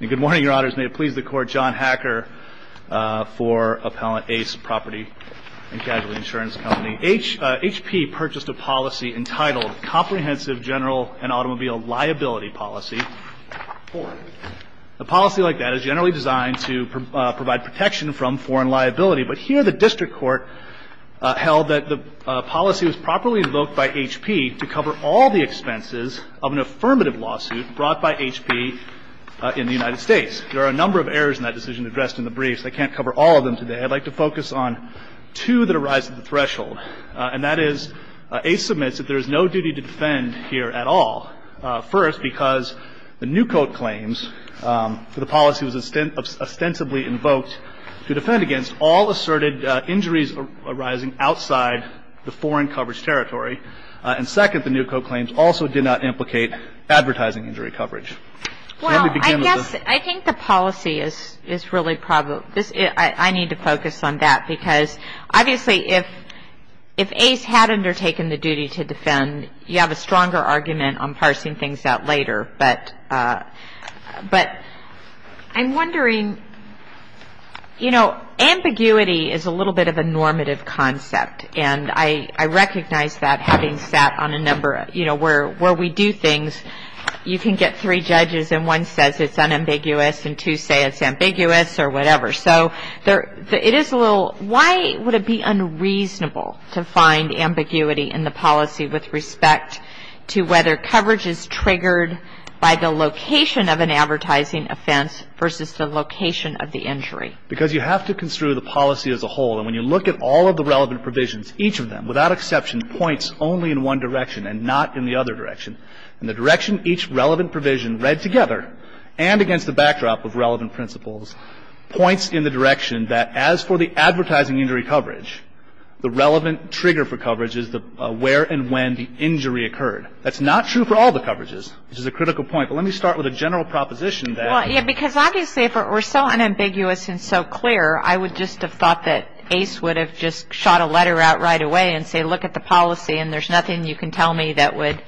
Good morning, your honors. May it please the court, John Hacker for Appellant ACE Property & Casualty Insurance Company. HP purchased a policy entitled Comprehensive General and Automobile Liability Policy 4. A policy like that is generally designed to provide protection from foreign liability, but here the district court held that the policy was properly invoked by HP to cover all the expenses of an affirmative lawsuit brought by HP in the United States. There are a number of errors in that decision addressed in the brief, so I can't cover all of them today. I'd like to focus on two that arise at the threshold, and that is, ACE submits that there is no duty to defend here at all. First, because the new code claims for the policy was ostensibly invoked to defend against all asserted injuries arising outside the foreign coverage territory. And second, the new code claims also did not implicate advertising injury coverage. Well, I guess, I think the policy is really probably, I need to focus on that, because obviously if ACE had undertaken the duty to defend, you have a stronger argument on parsing things out later. But I'm wondering, you know, ambiguity is a little bit of a normative concept, and I recognize that having sat on a number, you know, where we do things, you can get three judges and one says it's unambiguous and two say it's ambiguous or whatever. So it is a little, why would it be unreasonable to find ambiguity in the policy with respect to whether coverage is triggered by the location of an advertising offense versus the location of the injury? Because you have to construe the policy as a whole, and when you look at all of the relevant provisions, each of them, without exception, points only in one direction and not in the other direction. And the direction each relevant provision read together, and against the backdrop of relevant principles, points in the direction that as for the advertising injury coverage, the relevant trigger for coverage is where and when the injury occurred. That's not true for all the coverages, which is a critical point. But let me start with a general proposition. Well, yeah, because obviously if it were so unambiguous and so clear, I would just have thought that ACE would have just shot a letter out right away and say, look at the policy and there's nothing you can tell me that would,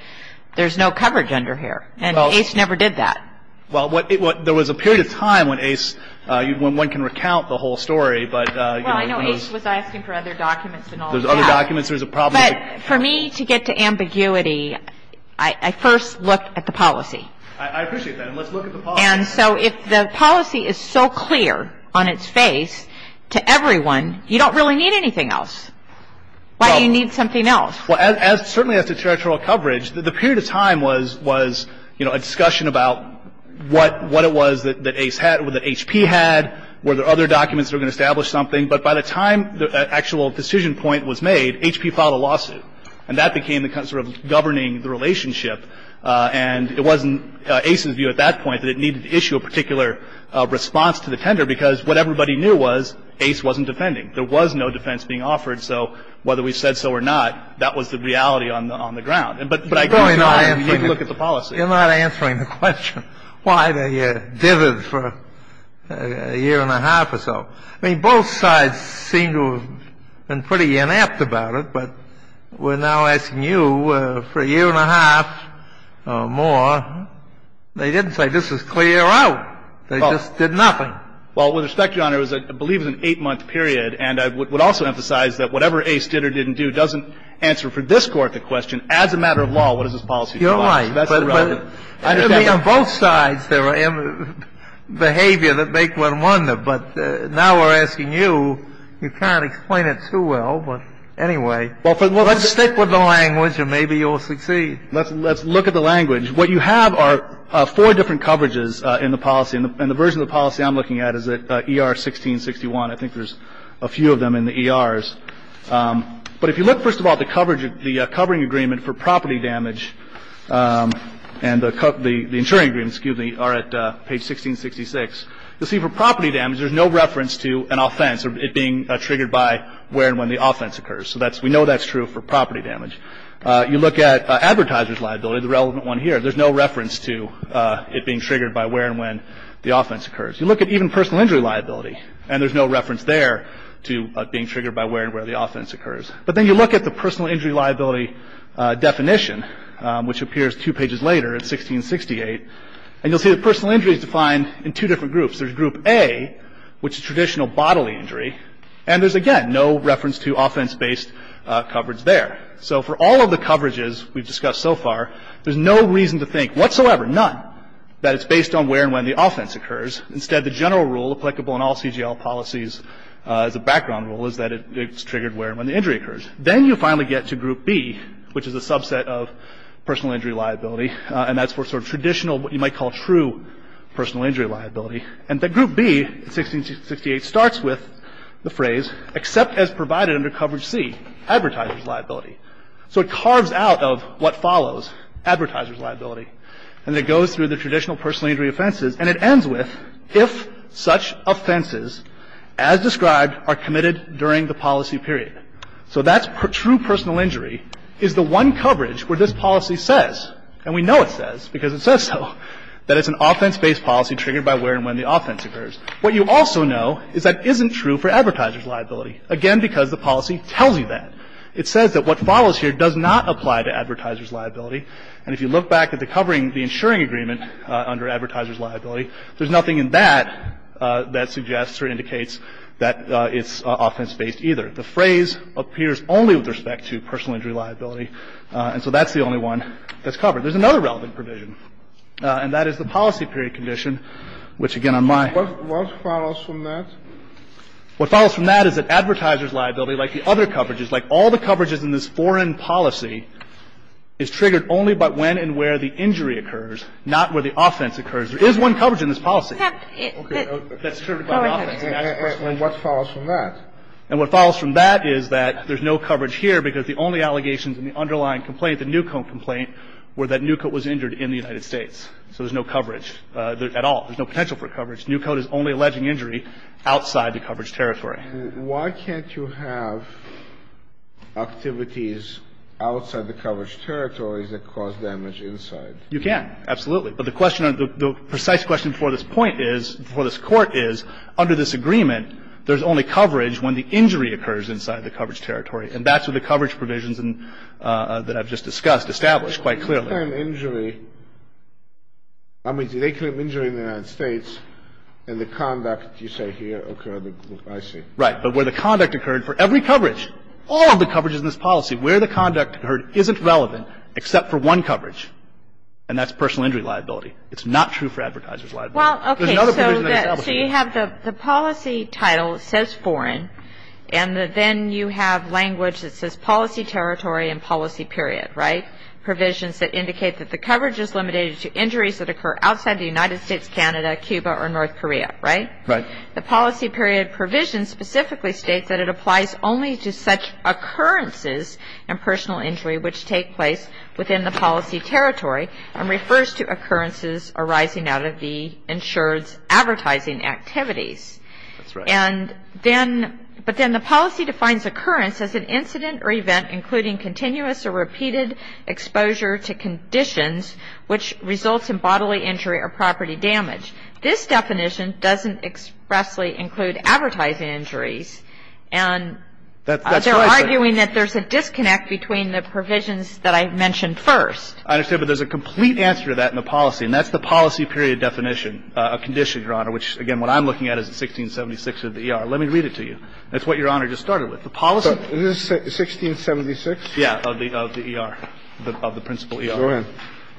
there's no coverage under here. And ACE never did that. Well, there was a period of time when ACE, when one can recount the whole story. Well, I know ACE was asking for other documents and all of that. There's other documents, there's a problem. But for me to get to ambiguity, I first look at the policy. I appreciate that. And let's look at the policy. And so if the policy is so clear on its face to everyone, you don't really need anything else. Why do you need something else? Well, certainly as to territorial coverage, the period of time was, you know, a discussion about what it was that ACE had, that HP had, were there other documents that were going to establish something. But by the time the actual decision point was made, HP filed a lawsuit. And that became sort of governing the relationship. And it wasn't ACE's view at that point that it needed to issue a particular response to the tender, because what everybody knew was ACE wasn't defending. There was no defense being offered. So whether we said so or not, that was the reality on the ground. But I can go on and look at the policy. You're not answering the question why they did it for a year and a half or so. I mean, both sides seem to have been pretty inept about it. But we're now asking you for a year and a half or more. They didn't say this is clear out. They just did nothing. Well, with respect, Your Honor, it was, I believe, an 8-month period. And I would also emphasize that whatever ACE did or didn't do doesn't answer for this Court the question, as a matter of law, what does this policy do? You're right. But on both sides, there are behavior that make one wonder. But now we're asking you. You can't explain it too well. But anyway, let's stick with the language and maybe you'll succeed. Let's look at the language. What you have are four different coverages in the policy. And the version of the policy I'm looking at is ER-1661. I think there's a few of them in the ERs. But if you look, first of all, at the covering agreement for property damage and the insuring agreement, excuse me, are at page 1666, you'll see for property damage there's no reference to an offense or it being triggered by where and when the offense occurs. So we know that's true for property damage. You look at advertiser's liability, the relevant one here, there's no reference to it being triggered by where and when the offense occurs. You look at even personal injury liability, and there's no reference there to being triggered by where and when the offense occurs. But then you look at the personal injury liability definition, which appears two pages later in 1668, and you'll see that personal injury is defined in two different groups. There's group A, which is traditional bodily injury, and there's, again, no reference to offense-based coverage there. So for all of the coverages we've discussed so far, there's no reason to think whatsoever, none, that it's based on where and when the offense occurs. Instead, the general rule applicable in all CGL policies as a background rule is that it's triggered where and when the injury occurs. Then you finally get to group B, which is a subset of personal injury liability, and that's for sort of traditional, what you might call true personal injury liability, and that group B in 1668 starts with the phrase, except as provided under coverage C, advertiser's liability. So it carves out of what follows, advertiser's liability, and it goes through the traditional personal injury offenses, and it ends with if such offenses, as described, are committed during the policy period. So that's true personal injury is the one coverage where this policy says, and we know it says because it says so, that it's an offense-based policy triggered by where and when the offense occurs. What you also know is that isn't true for advertiser's liability, again, because the policy tells you that. And if you look back at the covering, the insuring agreement under advertiser's liability, there's nothing in that that suggests or indicates that it's offense-based either. The phrase appears only with respect to personal injury liability, and so that's the only one that's covered. There's another relevant provision, and that is the policy period condition, which, again, on my ---- What follows from that? What follows from that is that advertiser's liability, like the other coverages, like all the coverages in this foreign policy is triggered only by when and where the injury occurs, not where the offense occurs. There is one coverage in this policy that's triggered by the offense. And what follows from that? And what follows from that is that there's no coverage here because the only allegations in the underlying complaint, the Newcoat complaint, were that Newcoat was injured in the United States. So there's no coverage at all. There's no potential for coverage. Newcoat is only alleging injury outside the coverage territory. Why can't you have activities outside the coverage territories that cause damage inside? You can, absolutely. But the question or the precise question for this point is, for this Court is, under this agreement there's only coverage when the injury occurs inside the coverage territory. And that's what the coverage provisions that I've just discussed establish quite clearly. I mean, did they claim injury in the United States and the conduct, you say, here occurred? I see. Right. But where the conduct occurred for every coverage, all of the coverages in this policy, where the conduct occurred isn't relevant except for one coverage, and that's personal injury liability. It's not true for advertiser's liability. Well, okay. So you have the policy title says foreign, and then you have language that says policy territory and policy period, right? And then you have the policy period provisions that indicate that the coverage is limited to injuries that occur outside the United States, Canada, Cuba, or North Korea. Right? Right. The policy period provisions specifically state that it applies only to such occurrences and personal injury which take place within the policy territory, and refers to occurrences arising out of the insured's advertising activities. That's right. And then, but then the policy defines occurrence as an incident or event including continuous or repeated exposure to conditions which results in bodily injury or property damage. This definition doesn't expressly include advertising injuries, and they're arguing that there's a disconnect between the provisions that I mentioned first. I understand, but there's a complete answer to that in the policy, which, again, what I'm looking at is 1676 of the ER. Let me read it to you. That's what Your Honor just started with. The policy of the ER, of the principle ER.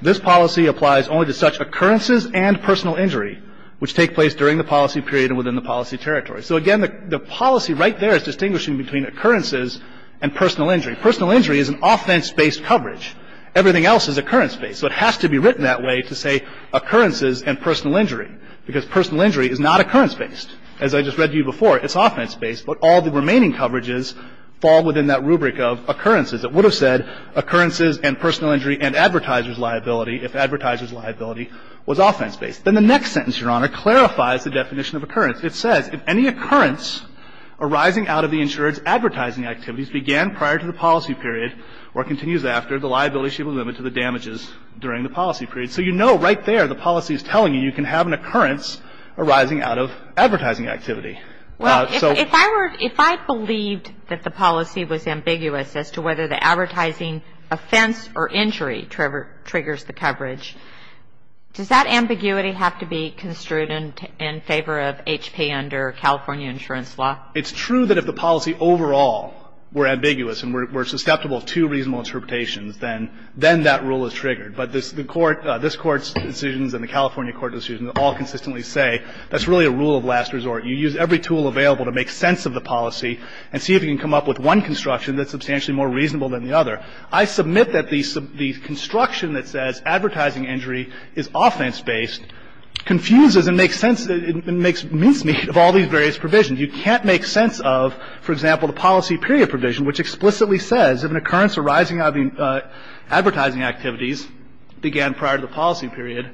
This policy applies only to such occurrences and personal injury which take place during the policy period and within the policy territory. So again, the policy right there is distinguishing between occurrences and personal injury. Personal injury is an offense-based coverage. Everything else is occurrence-based. So it has to be written that way to say occurrences and personal injury, because personal injury is not occurrence-based. As I just read to you before, it's offense-based, but all the remaining coverages fall within that rubric of occurrences. It would have said occurrences and personal injury and advertiser's liability if advertiser's liability was offense-based. Then the next sentence, Your Honor, clarifies the definition of occurrence. It says if any occurrence arising out of the insured's advertising activities began prior to the policy period or continues after, the liability should be limited to the damages during the policy period. So you know right there the policy is telling you, you can have an occurrence arising out of advertising activity. So ---- Well, if I were to ---- If I believed that the policy was ambiguous as to whether the advertising offense or injury triggers the coverage, does that ambiguity have to be construed in favor of HP under California insurance law? It's true that if the policy overall were ambiguous and were susceptible to reasonable interpretations, then that rule is triggered. But this Court's decisions and the California Court decisions all consistently say that's really a rule of last resort. You use every tool available to make sense of the policy and see if you can come up with one construction that's substantially more reasonable than the other. I submit that the construction that says advertising injury is offense-based confuses and makes sense of all these various provisions. You can't make sense of, for example, the policy period provision, which explicitly says if an occurrence arising out of advertising activities began prior to the policy period,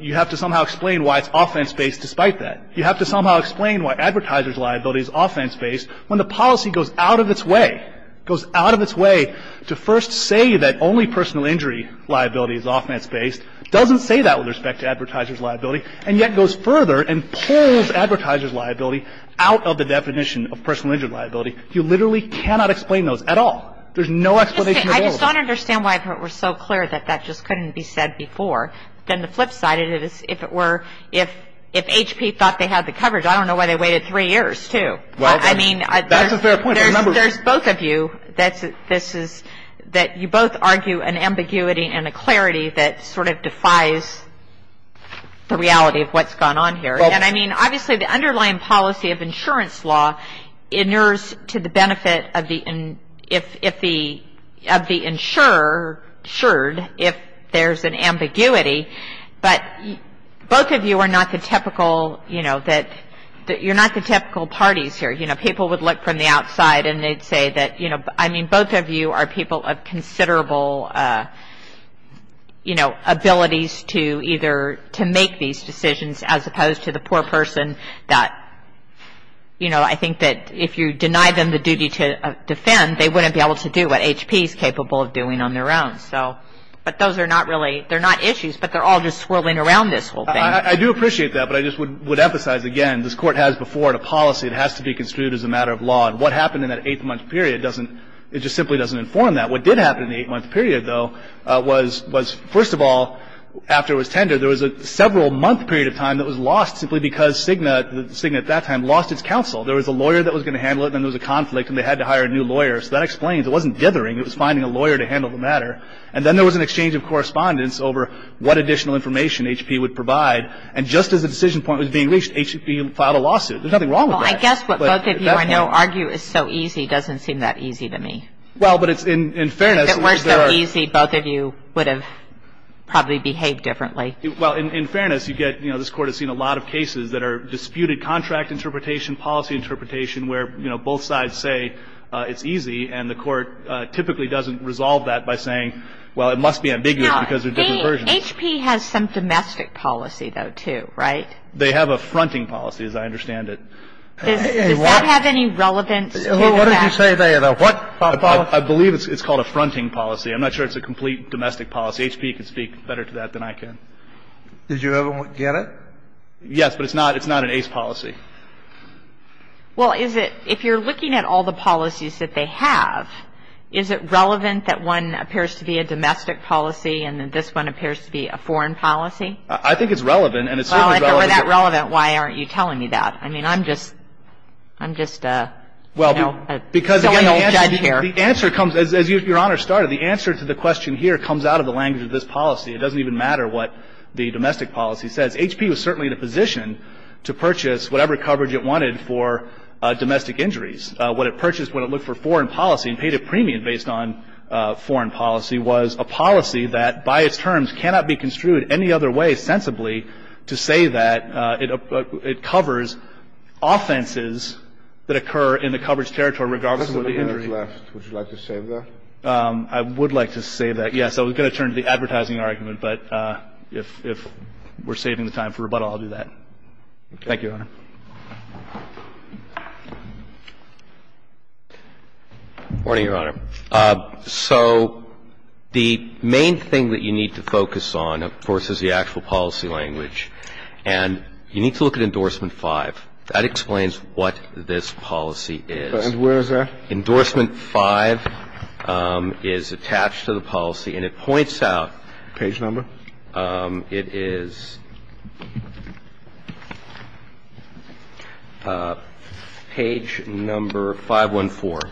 you have to somehow explain why it's offense-based despite that. You have to somehow explain why advertiser's liability is offense-based when the policy goes out of its way, goes out of its way to first say that only personal injury liability is offense-based, doesn't say that with respect to advertiser's liability, and yet goes further and pulls advertiser's liability out of the definition of personal injury liability. You literally cannot explain those at all. There's no explanation available. I just don't understand why it was so clear that that just couldn't be said before. Then the flip side of it is if it were if HP thought they had the coverage, I don't know why they waited three years, too. Well, that's a fair point. I mean, there's both of you that this is that you both argue an ambiguity and a clarity that sort of defies the reality of what's gone on here. And I mean, obviously, the underlying policy of insurance law inures to the benefit of the insured if there's an ambiguity. But both of you are not the typical, you know, that you're not the typical parties here. You know, people would look from the outside and they'd say that, you know, I mean, both of you are people of considerable, you know, abilities to either to make these decisions as opposed to the poor person that, you know, I think that if you deny them the duty to defend, they wouldn't be able to do what HP is capable of doing on their own. So but those are not really they're not issues, but they're all just swirling around this whole thing. I do appreciate that, but I just would emphasize again, this Court has before it a policy. It has to be construed as a matter of law. And what happened in that eight-month period doesn't it just simply doesn't inform that. What did happen in the eight-month period, though, was first of all, after it was simply because Cigna at that time lost its counsel. There was a lawyer that was going to handle it and then there was a conflict and they had to hire a new lawyer. So that explains it wasn't dithering. It was finding a lawyer to handle the matter. And then there was an exchange of correspondence over what additional information HP would provide. And just as the decision point was being reached, HP filed a lawsuit. There's nothing wrong with that. Well, I guess what both of you I know argue is so easy doesn't seem that easy to me. Well, but it's in fairness. If it were so easy, both of you would have probably behaved differently. Well, in fairness, you get, you know, this Court has seen a lot of cases that are disputed contract interpretation, policy interpretation, where, you know, both sides say it's easy and the Court typically doesn't resolve that by saying, well, it must be ambiguous because they're different versions. Now, HP has some domestic policy, though, too, right? They have a fronting policy, as I understand it. Does that have any relevance to that? What did you say there, though? What policy? I believe it's called a fronting policy. I'm not sure it's a complete domestic policy. I guess HP can speak better to that than I can. Did you ever get it? Yes. But it's not an ace policy. Well, is it, if you're looking at all the policies that they have, is it relevant that one appears to be a domestic policy and this one appears to be a foreign policy? I think it's relevant, and it's certainly relevant. Well, if it were that relevant, why aren't you telling me that? I mean, I'm just, I'm just a, you know, an old judge here. The answer comes, as Your Honor started, the answer to the question here comes out of the language of this policy. It doesn't even matter what the domestic policy says. HP was certainly in a position to purchase whatever coverage it wanted for domestic injuries. What it purchased when it looked for foreign policy and paid a premium based on foreign policy was a policy that by its terms cannot be construed any other way sensibly to say that it covers offenses that occur in the coverage territory regardless of the injury. But, Your Honor, if we could go through, there's a couple of minutes left. Would you like to save that? I would like to save that. Yeah. I was going to turn to the advertising argument. But if, if we're saving longer for rebuttal, we can do that. Thank you, Your Honor. Morning, Your Honor. So the main thing that you need to focus on, of course, is the actual policy language. And you need to look at Endorsement 5. That explains what this policy is. And where is that? Endorsement 5 is attached to the policy, and it points out. Page number? It is page number 514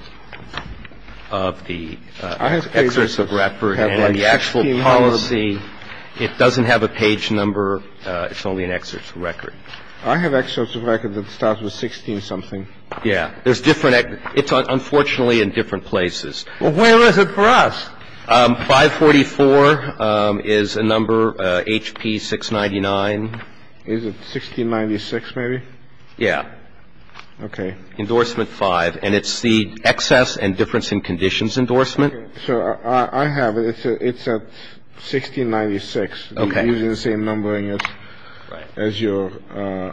of the excerpt of record. And the actual policy, it doesn't have a page number. It's only an excerpt of record. I have excerpts of record that starts with 16-something. Yeah. There's different excerpts. It's unfortunately in different places. Well, where is it for us? 544 is a number, HP 699. Is it 1696, maybe? Yeah. Okay. Endorsement 5. And it's the excess and difference in conditions endorsement. Okay. So I have it. It's at 1696. Okay. You're using the same numbering as your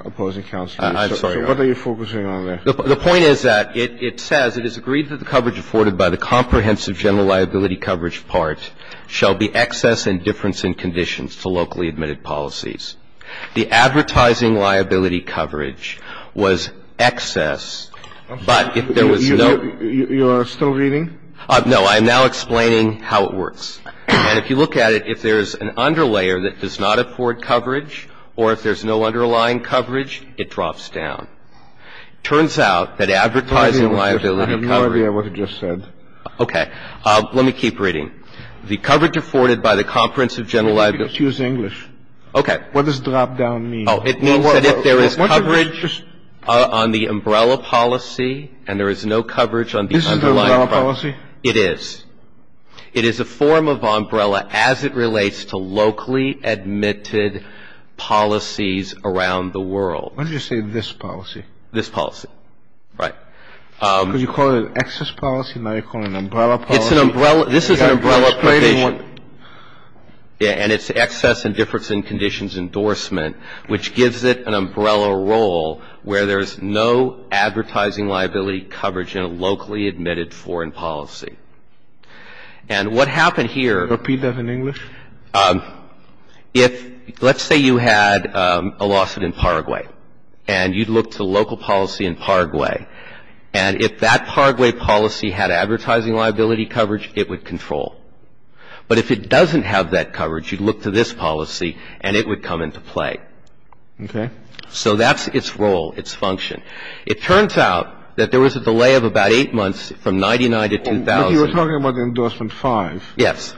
opposing counsel. I'm sorry. So what are you focusing on there? The point is that it says it is agreed that the coverage afforded by the comprehensive general liability coverage part shall be excess and difference in conditions to locally admitted policies. The advertising liability coverage was excess, but if there was no You are still reading? No. I am now explaining how it works. And if you look at it, if there is an underlayer that does not afford coverage or if there's no underlying coverage, it drops down. It turns out that advertising liability coverage I have no idea what you just said. Okay. Let me keep reading. The coverage afforded by the comprehensive general liability. Just use English. Okay. What does drop down mean? Oh, it means that if there is coverage on the umbrella policy and there is no coverage on the underlying policy. This is the umbrella policy? It is. It is a form of umbrella as it relates to locally admitted policies around the world. Why did you say this policy? This policy. Right. Because you call it an excess policy and now you're calling it an umbrella policy? It's an umbrella. This is an umbrella provision. And it's excess and difference in conditions endorsement, which gives it an umbrella role where there's no advertising liability coverage in a locally admitted foreign policy. And what happened here. Repeat that in English. Let's say you had a lawsuit in Paraguay and you'd look to local policy in Paraguay. And if that Paraguay policy had advertising liability coverage, it would control. But if it doesn't have that coverage, you'd look to this policy and it would come into play. Okay. So that's its role, its function. It turns out that there was a delay of about eight months from 1999 to 2000. But you were talking about the Endorsement 5. Yes.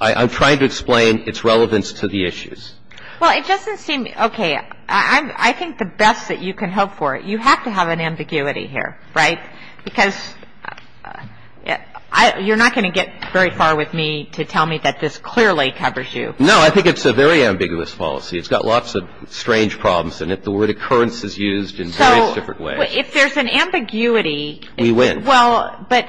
I'm trying to explain its relevance to the issues. Well, it doesn't seem. Okay. I think the best that you can hope for, you have to have an ambiguity here, right? Because you're not going to get very far with me to tell me that this clearly covers you. I think it's a very ambiguous policy. It's got lots of strange problems in it. The word occurrence is used in various different ways. So if there's an ambiguity. We win. Well, but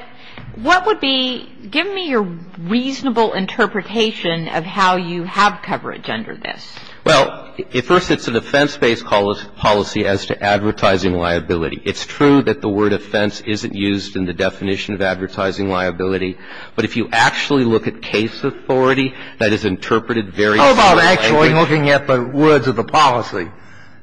what would be, give me your reasonable interpretation of how you have coverage under this. Well, first it's a defense-based policy as to advertising liability. It's true that the word offense isn't used in the definition of advertising liability. But if you actually look at case authority, that is interpreted very similarly. It's all about actually looking at the words of the policy.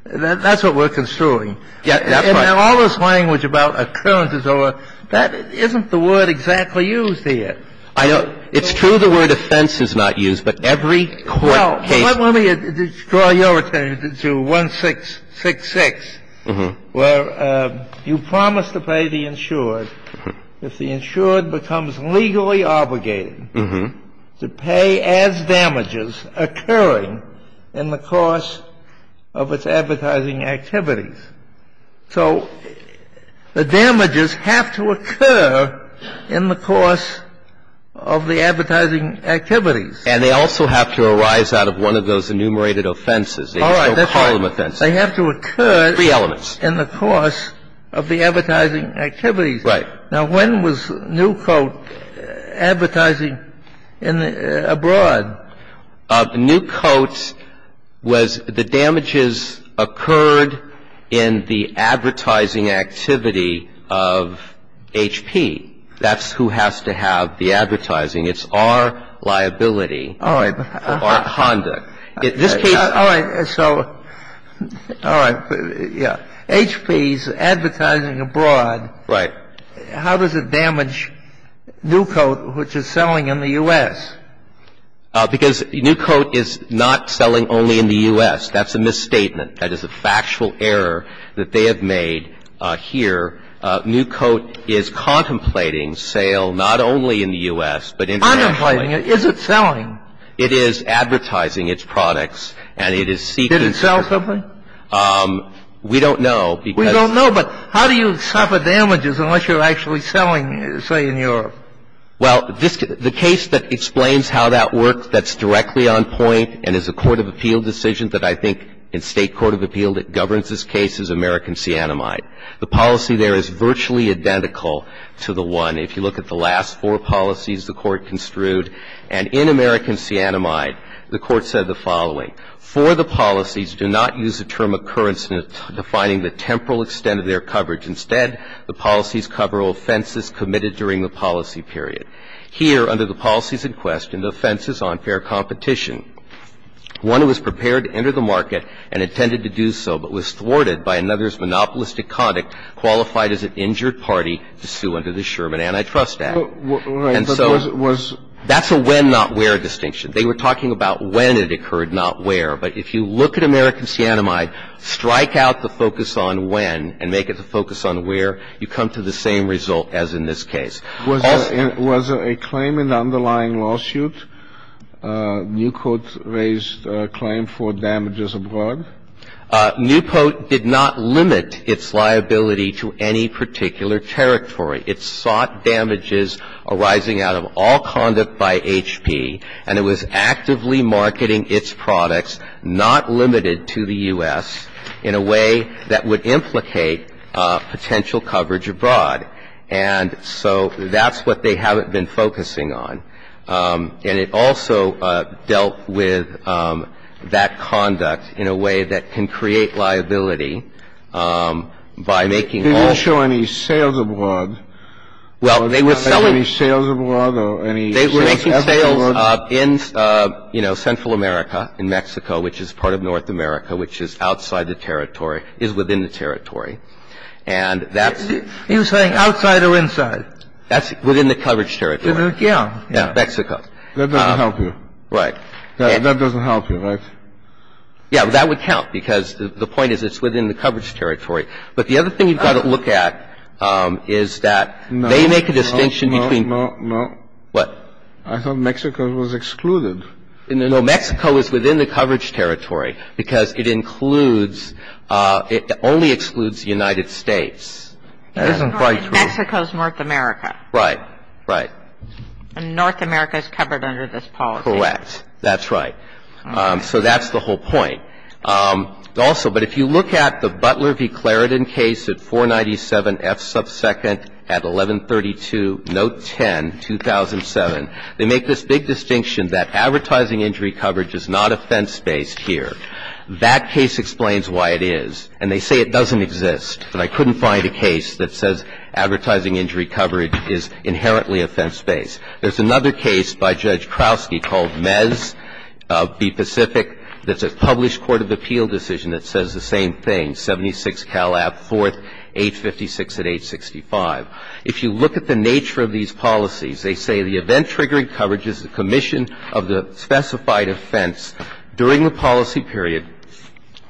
That's what we're construing. That's right. And then all this language about occurrence is over. That isn't the word exactly used here. I know. It's true the word offense is not used, but every court case. Well, let me draw your attention to 1666, where you promise to pay the insured. If the insured becomes legally obligated to pay as damages occurring in the course of its advertising activities. So the damages have to occur in the course of the advertising activities. And they also have to arise out of one of those enumerated offenses. All right. They have to occur in the course of the advertising activities. Right. Now, when was Newcote advertising abroad? Newcote was the damages occurred in the advertising activity of HP. That's who has to have the advertising. It's our liability. All right. Our conduct. All right. So all right. Yeah. HP's advertising abroad. Right. How does it damage Newcote, which is selling in the U.S.? Because Newcote is not selling only in the U.S. That's a misstatement. That is a factual error that they have made here. Newcote is contemplating sale not only in the U.S., but internationally. Contemplating? Is it selling? It is advertising its products, and it is seeking. Did it sell something? We don't know. We don't know. But how do you suffer damages unless you're actually selling, say, in Europe? Well, the case that explains how that works that's directly on point and is a court of appeal decision that I think in State court of appeal that governs this case is American Cyanamide. The policy there is virtually identical to the one. If you look at the last four policies the Court construed, and in American Cyanamide, the Court said the following. For the policies, do not use the term occurrence in defining the temporal extent of their coverage. Instead, the policies cover offenses committed during the policy period. Here, under the policies in question, the offense is unfair competition. One was prepared to enter the market and intended to do so, but was thwarted by another's monopolistic conduct qualified as an injured party to sue under the Sherman Antitrust Act. And so that's a when, not where distinction. They were talking about when it occurred, not where. But if you look at American Cyanamide, strike out the focus on when and make it the focus on where, you come to the same result as in this case. Was there a claim in the underlying lawsuit? Newport raised a claim for damages abroad. Newport did not limit its liability to any particular territory. It sought damages arising out of all conduct by HP, and it was actively marketing its products, not limited to the U.S., in a way that would implicate potential coverage abroad. And so that's what they haven't been focusing on. And it also dealt with that conduct in a way that can create liability by making all of them. And they were making sales abroad. And they were making sales abroad. Well, they were selling any sales abroad or any other abroad? They were making sales in, you know, Central America, in Mexico, which is part of North America, which is outside the territory, is within the territory. And that's the --- Are you saying outside or inside? That's within the coverage territory. Yeah. Yeah. Mexico. That doesn't help you. Right. That doesn't help you, right? Yeah. That would count because the point is it's within the coverage territory. But the other thing you've got to look at is that they make a distinction between No, no, no. What? I thought Mexico was excluded. No, Mexico is within the coverage territory because it includes, it only excludes the United States. That isn't quite true. Mexico is North America. Right. Right. And North America is covered under this policy. Correct. That's right. So that's the whole point. Also, but if you look at the Butler v. Clarendon case at 497 F sub second at 1132 note 10, 2007, they make this big distinction that advertising injury coverage is not offense-based here. That case explains why it is. And they say it doesn't exist. And I couldn't find a case that says advertising injury coverage is inherently offense-based. There's another case by Judge Krausky called Mez v. Pacific that's a published court of appeal decision that says the same thing, 76 Calab, 4th, 856 at 865. If you look at the nature of these policies, they say the event-triggering coverage is the commission of the specified offense during the policy period,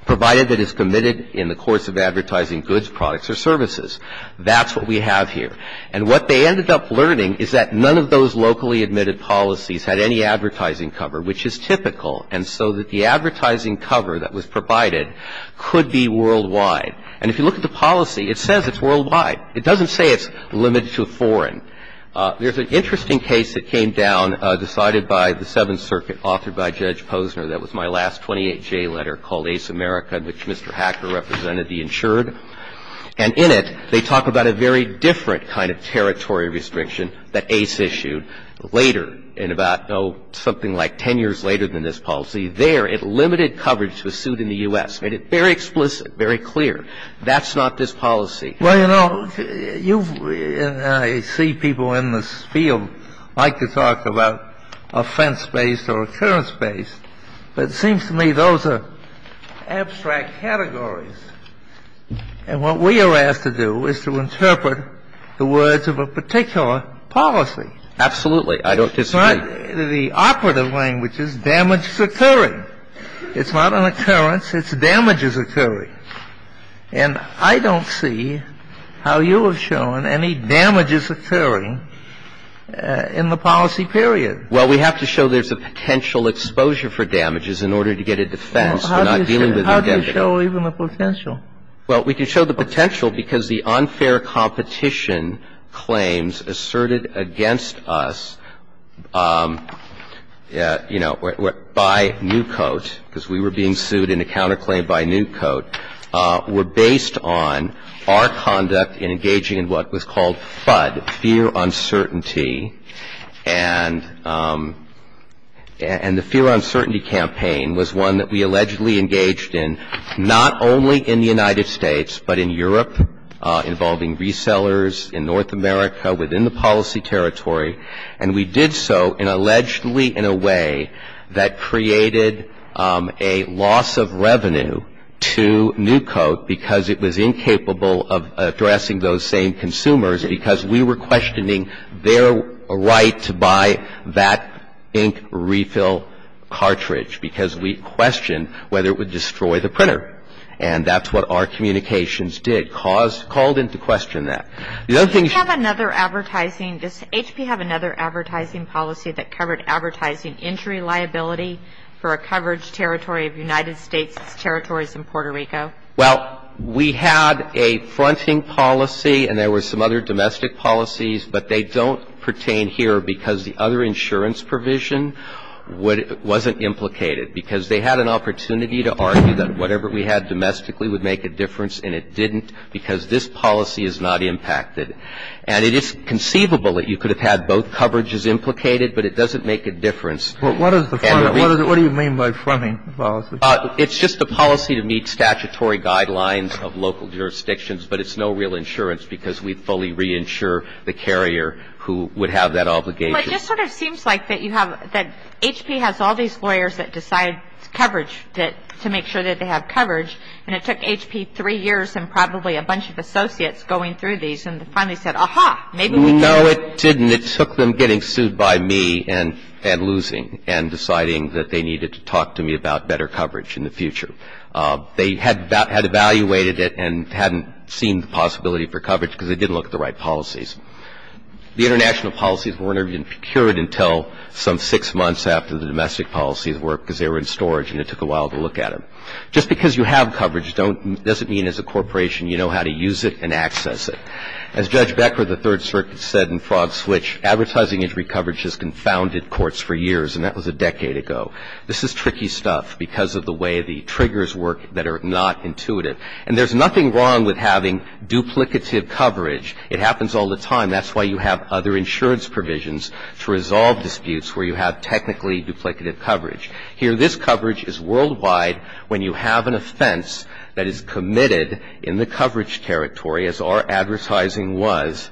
provided that it's committed in the course of advertising goods, products or services. That's what we have here. And what they ended up learning is that none of those locally admitted policies had any advertising cover, which is typical, and so that the advertising cover that was provided could be worldwide. And if you look at the policy, it says it's worldwide. It doesn't say it's limited to foreign. There's an interesting case that came down, decided by the Seventh Circuit, authored by Judge Posner, that was my last 28-J letter called Ace America, in which Mr. Hacker represented the insured. And in it, they talk about a very different kind of territory restriction that Ace issued later in about, oh, something like 10 years later than this policy. There, it limited coverage to a suit in the U.S., made it very explicit, very clear. That's not this policy. Well, you know, I see people in this field like to talk about offense-based or occurrence-based, but it seems to me those are abstract categories. And what we are asked to do is to interpret the words of a particular policy. Absolutely. I don't disagree. The operative language is damage is occurring. It's not an occurrence. It's damage is occurring. And I don't see how you have shown any damages occurring in the policy period. Well, we have to show there's a potential exposure for damages in order to get a defense for not dealing with an indemnity. How do you show even the potential? Well, we can show the potential because the unfair competition claims asserted against us, you know, by Newcoat, because we were being sued in a counterclaim by Newcoat, were based on our conduct in engaging in what was called FUD, fear uncertainty. And the fear uncertainty campaign was one that we allegedly engaged in, not only in the United States, but in Europe, involving resellers, in North America, within the policy territory. And we did so in allegedly in a way that created a loss of revenue for the And we did so in a way that created a loss of revenue to Newcoat because it was incapable of addressing those same consumers, because we were questioning their right to buy that ink refill cartridge, because we questioned whether it would destroy the printer. And that's what our communications did, caused, called into question that. The other thing is you have another advertising. Does HP have another advertising policy that covered advertising injury liability for a coverage territory of United States territories in Puerto Rico? Well, we had a fronting policy, and there were some other domestic policies, but they don't pertain here because the other insurance provision wasn't implicated. Because they had an opportunity to argue that whatever we had domestically would make a difference, and it didn't because this policy is not impacted. And it is conceivable that you could have had both coverages implicated, but it doesn't make a difference. But what is the front? What do you mean by fronting policy? It's just a policy to meet statutory guidelines of local jurisdictions, but it's no real insurance because we fully reinsure the carrier who would have that obligation. But it just sort of seems like that you have that HP has all these lawyers that decide coverage to make sure that they have coverage, and it took HP three years and probably a bunch of associates going through these and finally said, aha, maybe we can. No, it didn't. It took them getting sued by me and losing and deciding that they needed to talk to me about better coverage in the future. They had evaluated it and hadn't seen the possibility for coverage because they didn't look at the right policies. The international policies weren't even procured until some six months after the domestic policies were because they were in storage and it took a while to look at them. Just because you have coverage doesn't mean as a corporation you know how to use it and access it. As Judge Becker of the Third Circuit said in Frog Switch, advertising injury coverage has confounded courts for years, and that was a decade ago. This is tricky stuff because of the way the triggers work that are not intuitive. And there's nothing wrong with having duplicative coverage. It happens all the time. That's why you have other insurance provisions to resolve disputes where you have technically duplicative coverage. Here, this coverage is worldwide when you have an offense that is committed in the coverage territory, as our advertising was,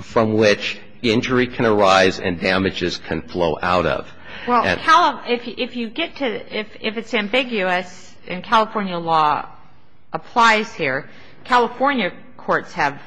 from which injury can arise and damages can flow out of. And how if you get to, if it's ambiguous and California law applies here, California courts have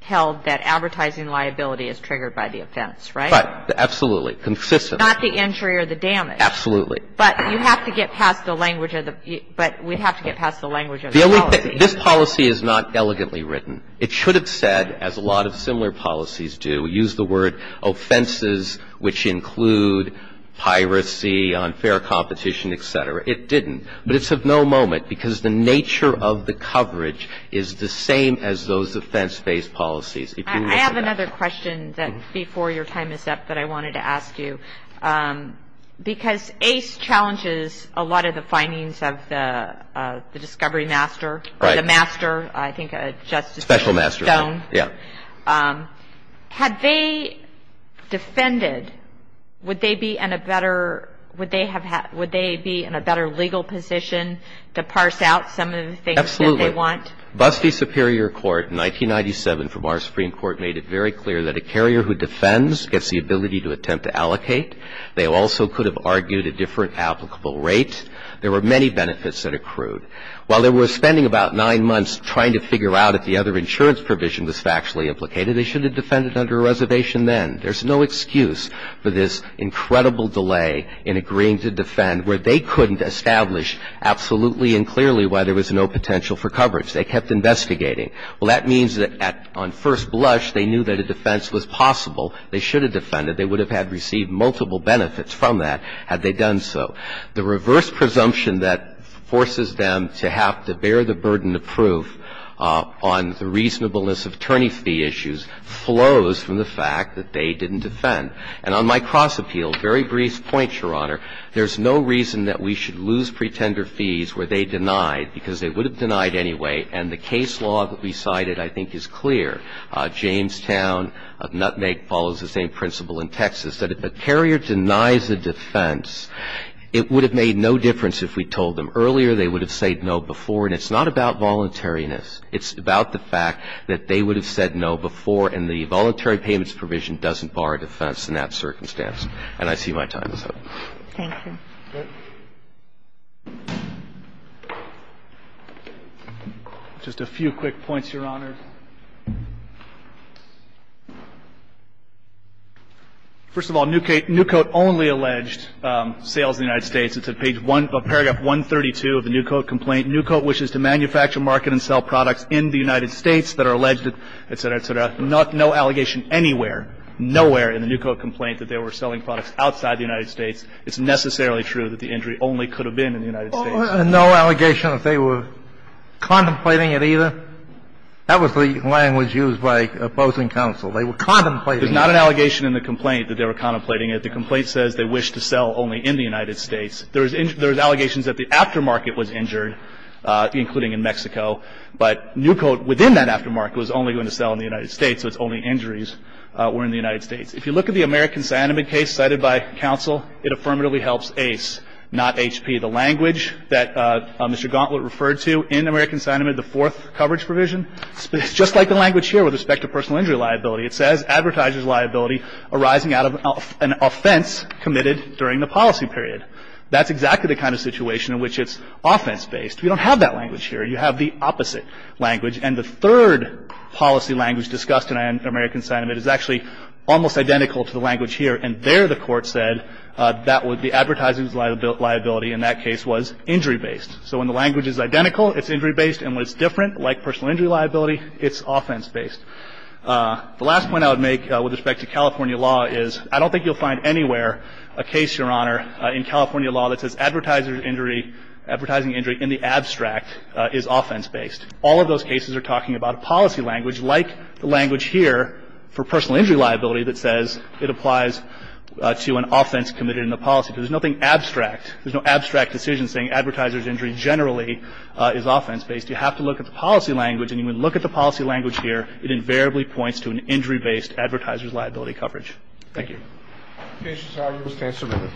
held that advertising liability is triggered by the offense, right? Right. Consistent. Not the injury or the damage. Absolutely. But you have to get past the language of the, but we have to get past the language of the policy. The only thing, this policy is not elegantly written. It should have said, as a lot of similar policies do, use the word offenses which include piracy, unfair competition, et cetera. It didn't. But it's of no moment because the nature of the coverage is the same as those offense-based policies. If you look at that. I have a question before your time is up that I wanted to ask you. Because ACE challenges a lot of the findings of the discovery master or the master, I think, justice Stone. Special master. Yeah. Had they defended, would they be in a better legal position to parse out some of the things that they want? Absolutely. Busty Superior Court in 1997 from our Supreme Court made it very clear that a carrier who defends gets the ability to attempt to allocate. They also could have argued a different applicable rate. There were many benefits that accrued. While they were spending about nine months trying to figure out if the other insurance provision was factually implicated, they should have defended under a reservation then. There's no excuse for this incredible delay in agreeing to defend where they couldn't And I think that's one of the reasons why the Supreme Court, in the first place, didn't establish absolutely and clearly why there was no potential for coverage. They kept investigating. Well, that means that on first blush, they knew that a defense was possible. They should have defended. They would have had received multiple benefits from that had they done so. The reverse presumption that forces them to have to bear the burden of proof on the basis of the fact that a carrier would have said no before. And I think that's one of the reasons why we lose pretender fees where they denied, because they would have denied anyway. And the case law that we cited I think is clear. Jamestown, Nutmeg follows the same principle in Texas, that if a carrier denies a defense, it would have made no difference if we told them earlier. They would have said no before. And it's not about voluntariness. It's about the fact that they would have said no before and the voluntary payments provision doesn't bar a defense in that circumstance. And I see my time is up. Thank you. Just a few quick points, Your Honor. First of all, Newcoat only alleged sales in the United States. It's at page one, paragraph 132 of the Newcoat complaint. Newcoat wishes to manufacture, market and sell products in the United States that are alleged, et cetera, et cetera. No allegation anywhere, nowhere in the Newcoat complaint that they were selling products outside the United States. It's necessarily true that the injury only could have been in the United States. No allegation that they were contemplating it either? That was the language used by opposing counsel. They were contemplating it. There's not an allegation in the complaint that they were contemplating it. The complaint says they wished to sell only in the United States. There's allegations that the aftermarket was injured, including in Mexico. But Newcoat within that aftermarket was only going to sell in the United States, so its only injuries were in the United States. If you look at the American cyanamide case cited by counsel, it affirmatively helps ACE, not HP. The language that Mr. Gauntlet referred to in American cyanamide, the fourth coverage provision, it's just like the language here with respect to personal injury liability. It says advertisers' liability arising out of an offense committed during the policy period. That's exactly the kind of situation in which it's offense-based. We don't have that language here. You have the opposite language. And the third policy language discussed in American cyanamide is actually almost identical to the language here. And there the Court said that the advertisers' liability in that case was injury-based. So when the language is identical, it's injury-based. And when it's different, like personal injury liability, it's offense-based. The last point I would make with respect to California law is I don't think you'll find anywhere a case, Your Honor, in California law that says advertiser's injury, advertising injury in the abstract is offense-based. All of those cases are talking about a policy language like the language here for personal injury liability that says it applies to an offense committed in the policy. There's nothing abstract. There's no abstract decision saying advertisers' injury generally is offense-based. You have to look at the policy language. And when you look at the policy language here, it invariably points to an injury-based advertisers' liability coverage. Thank you. The case is argued. The case is submitted.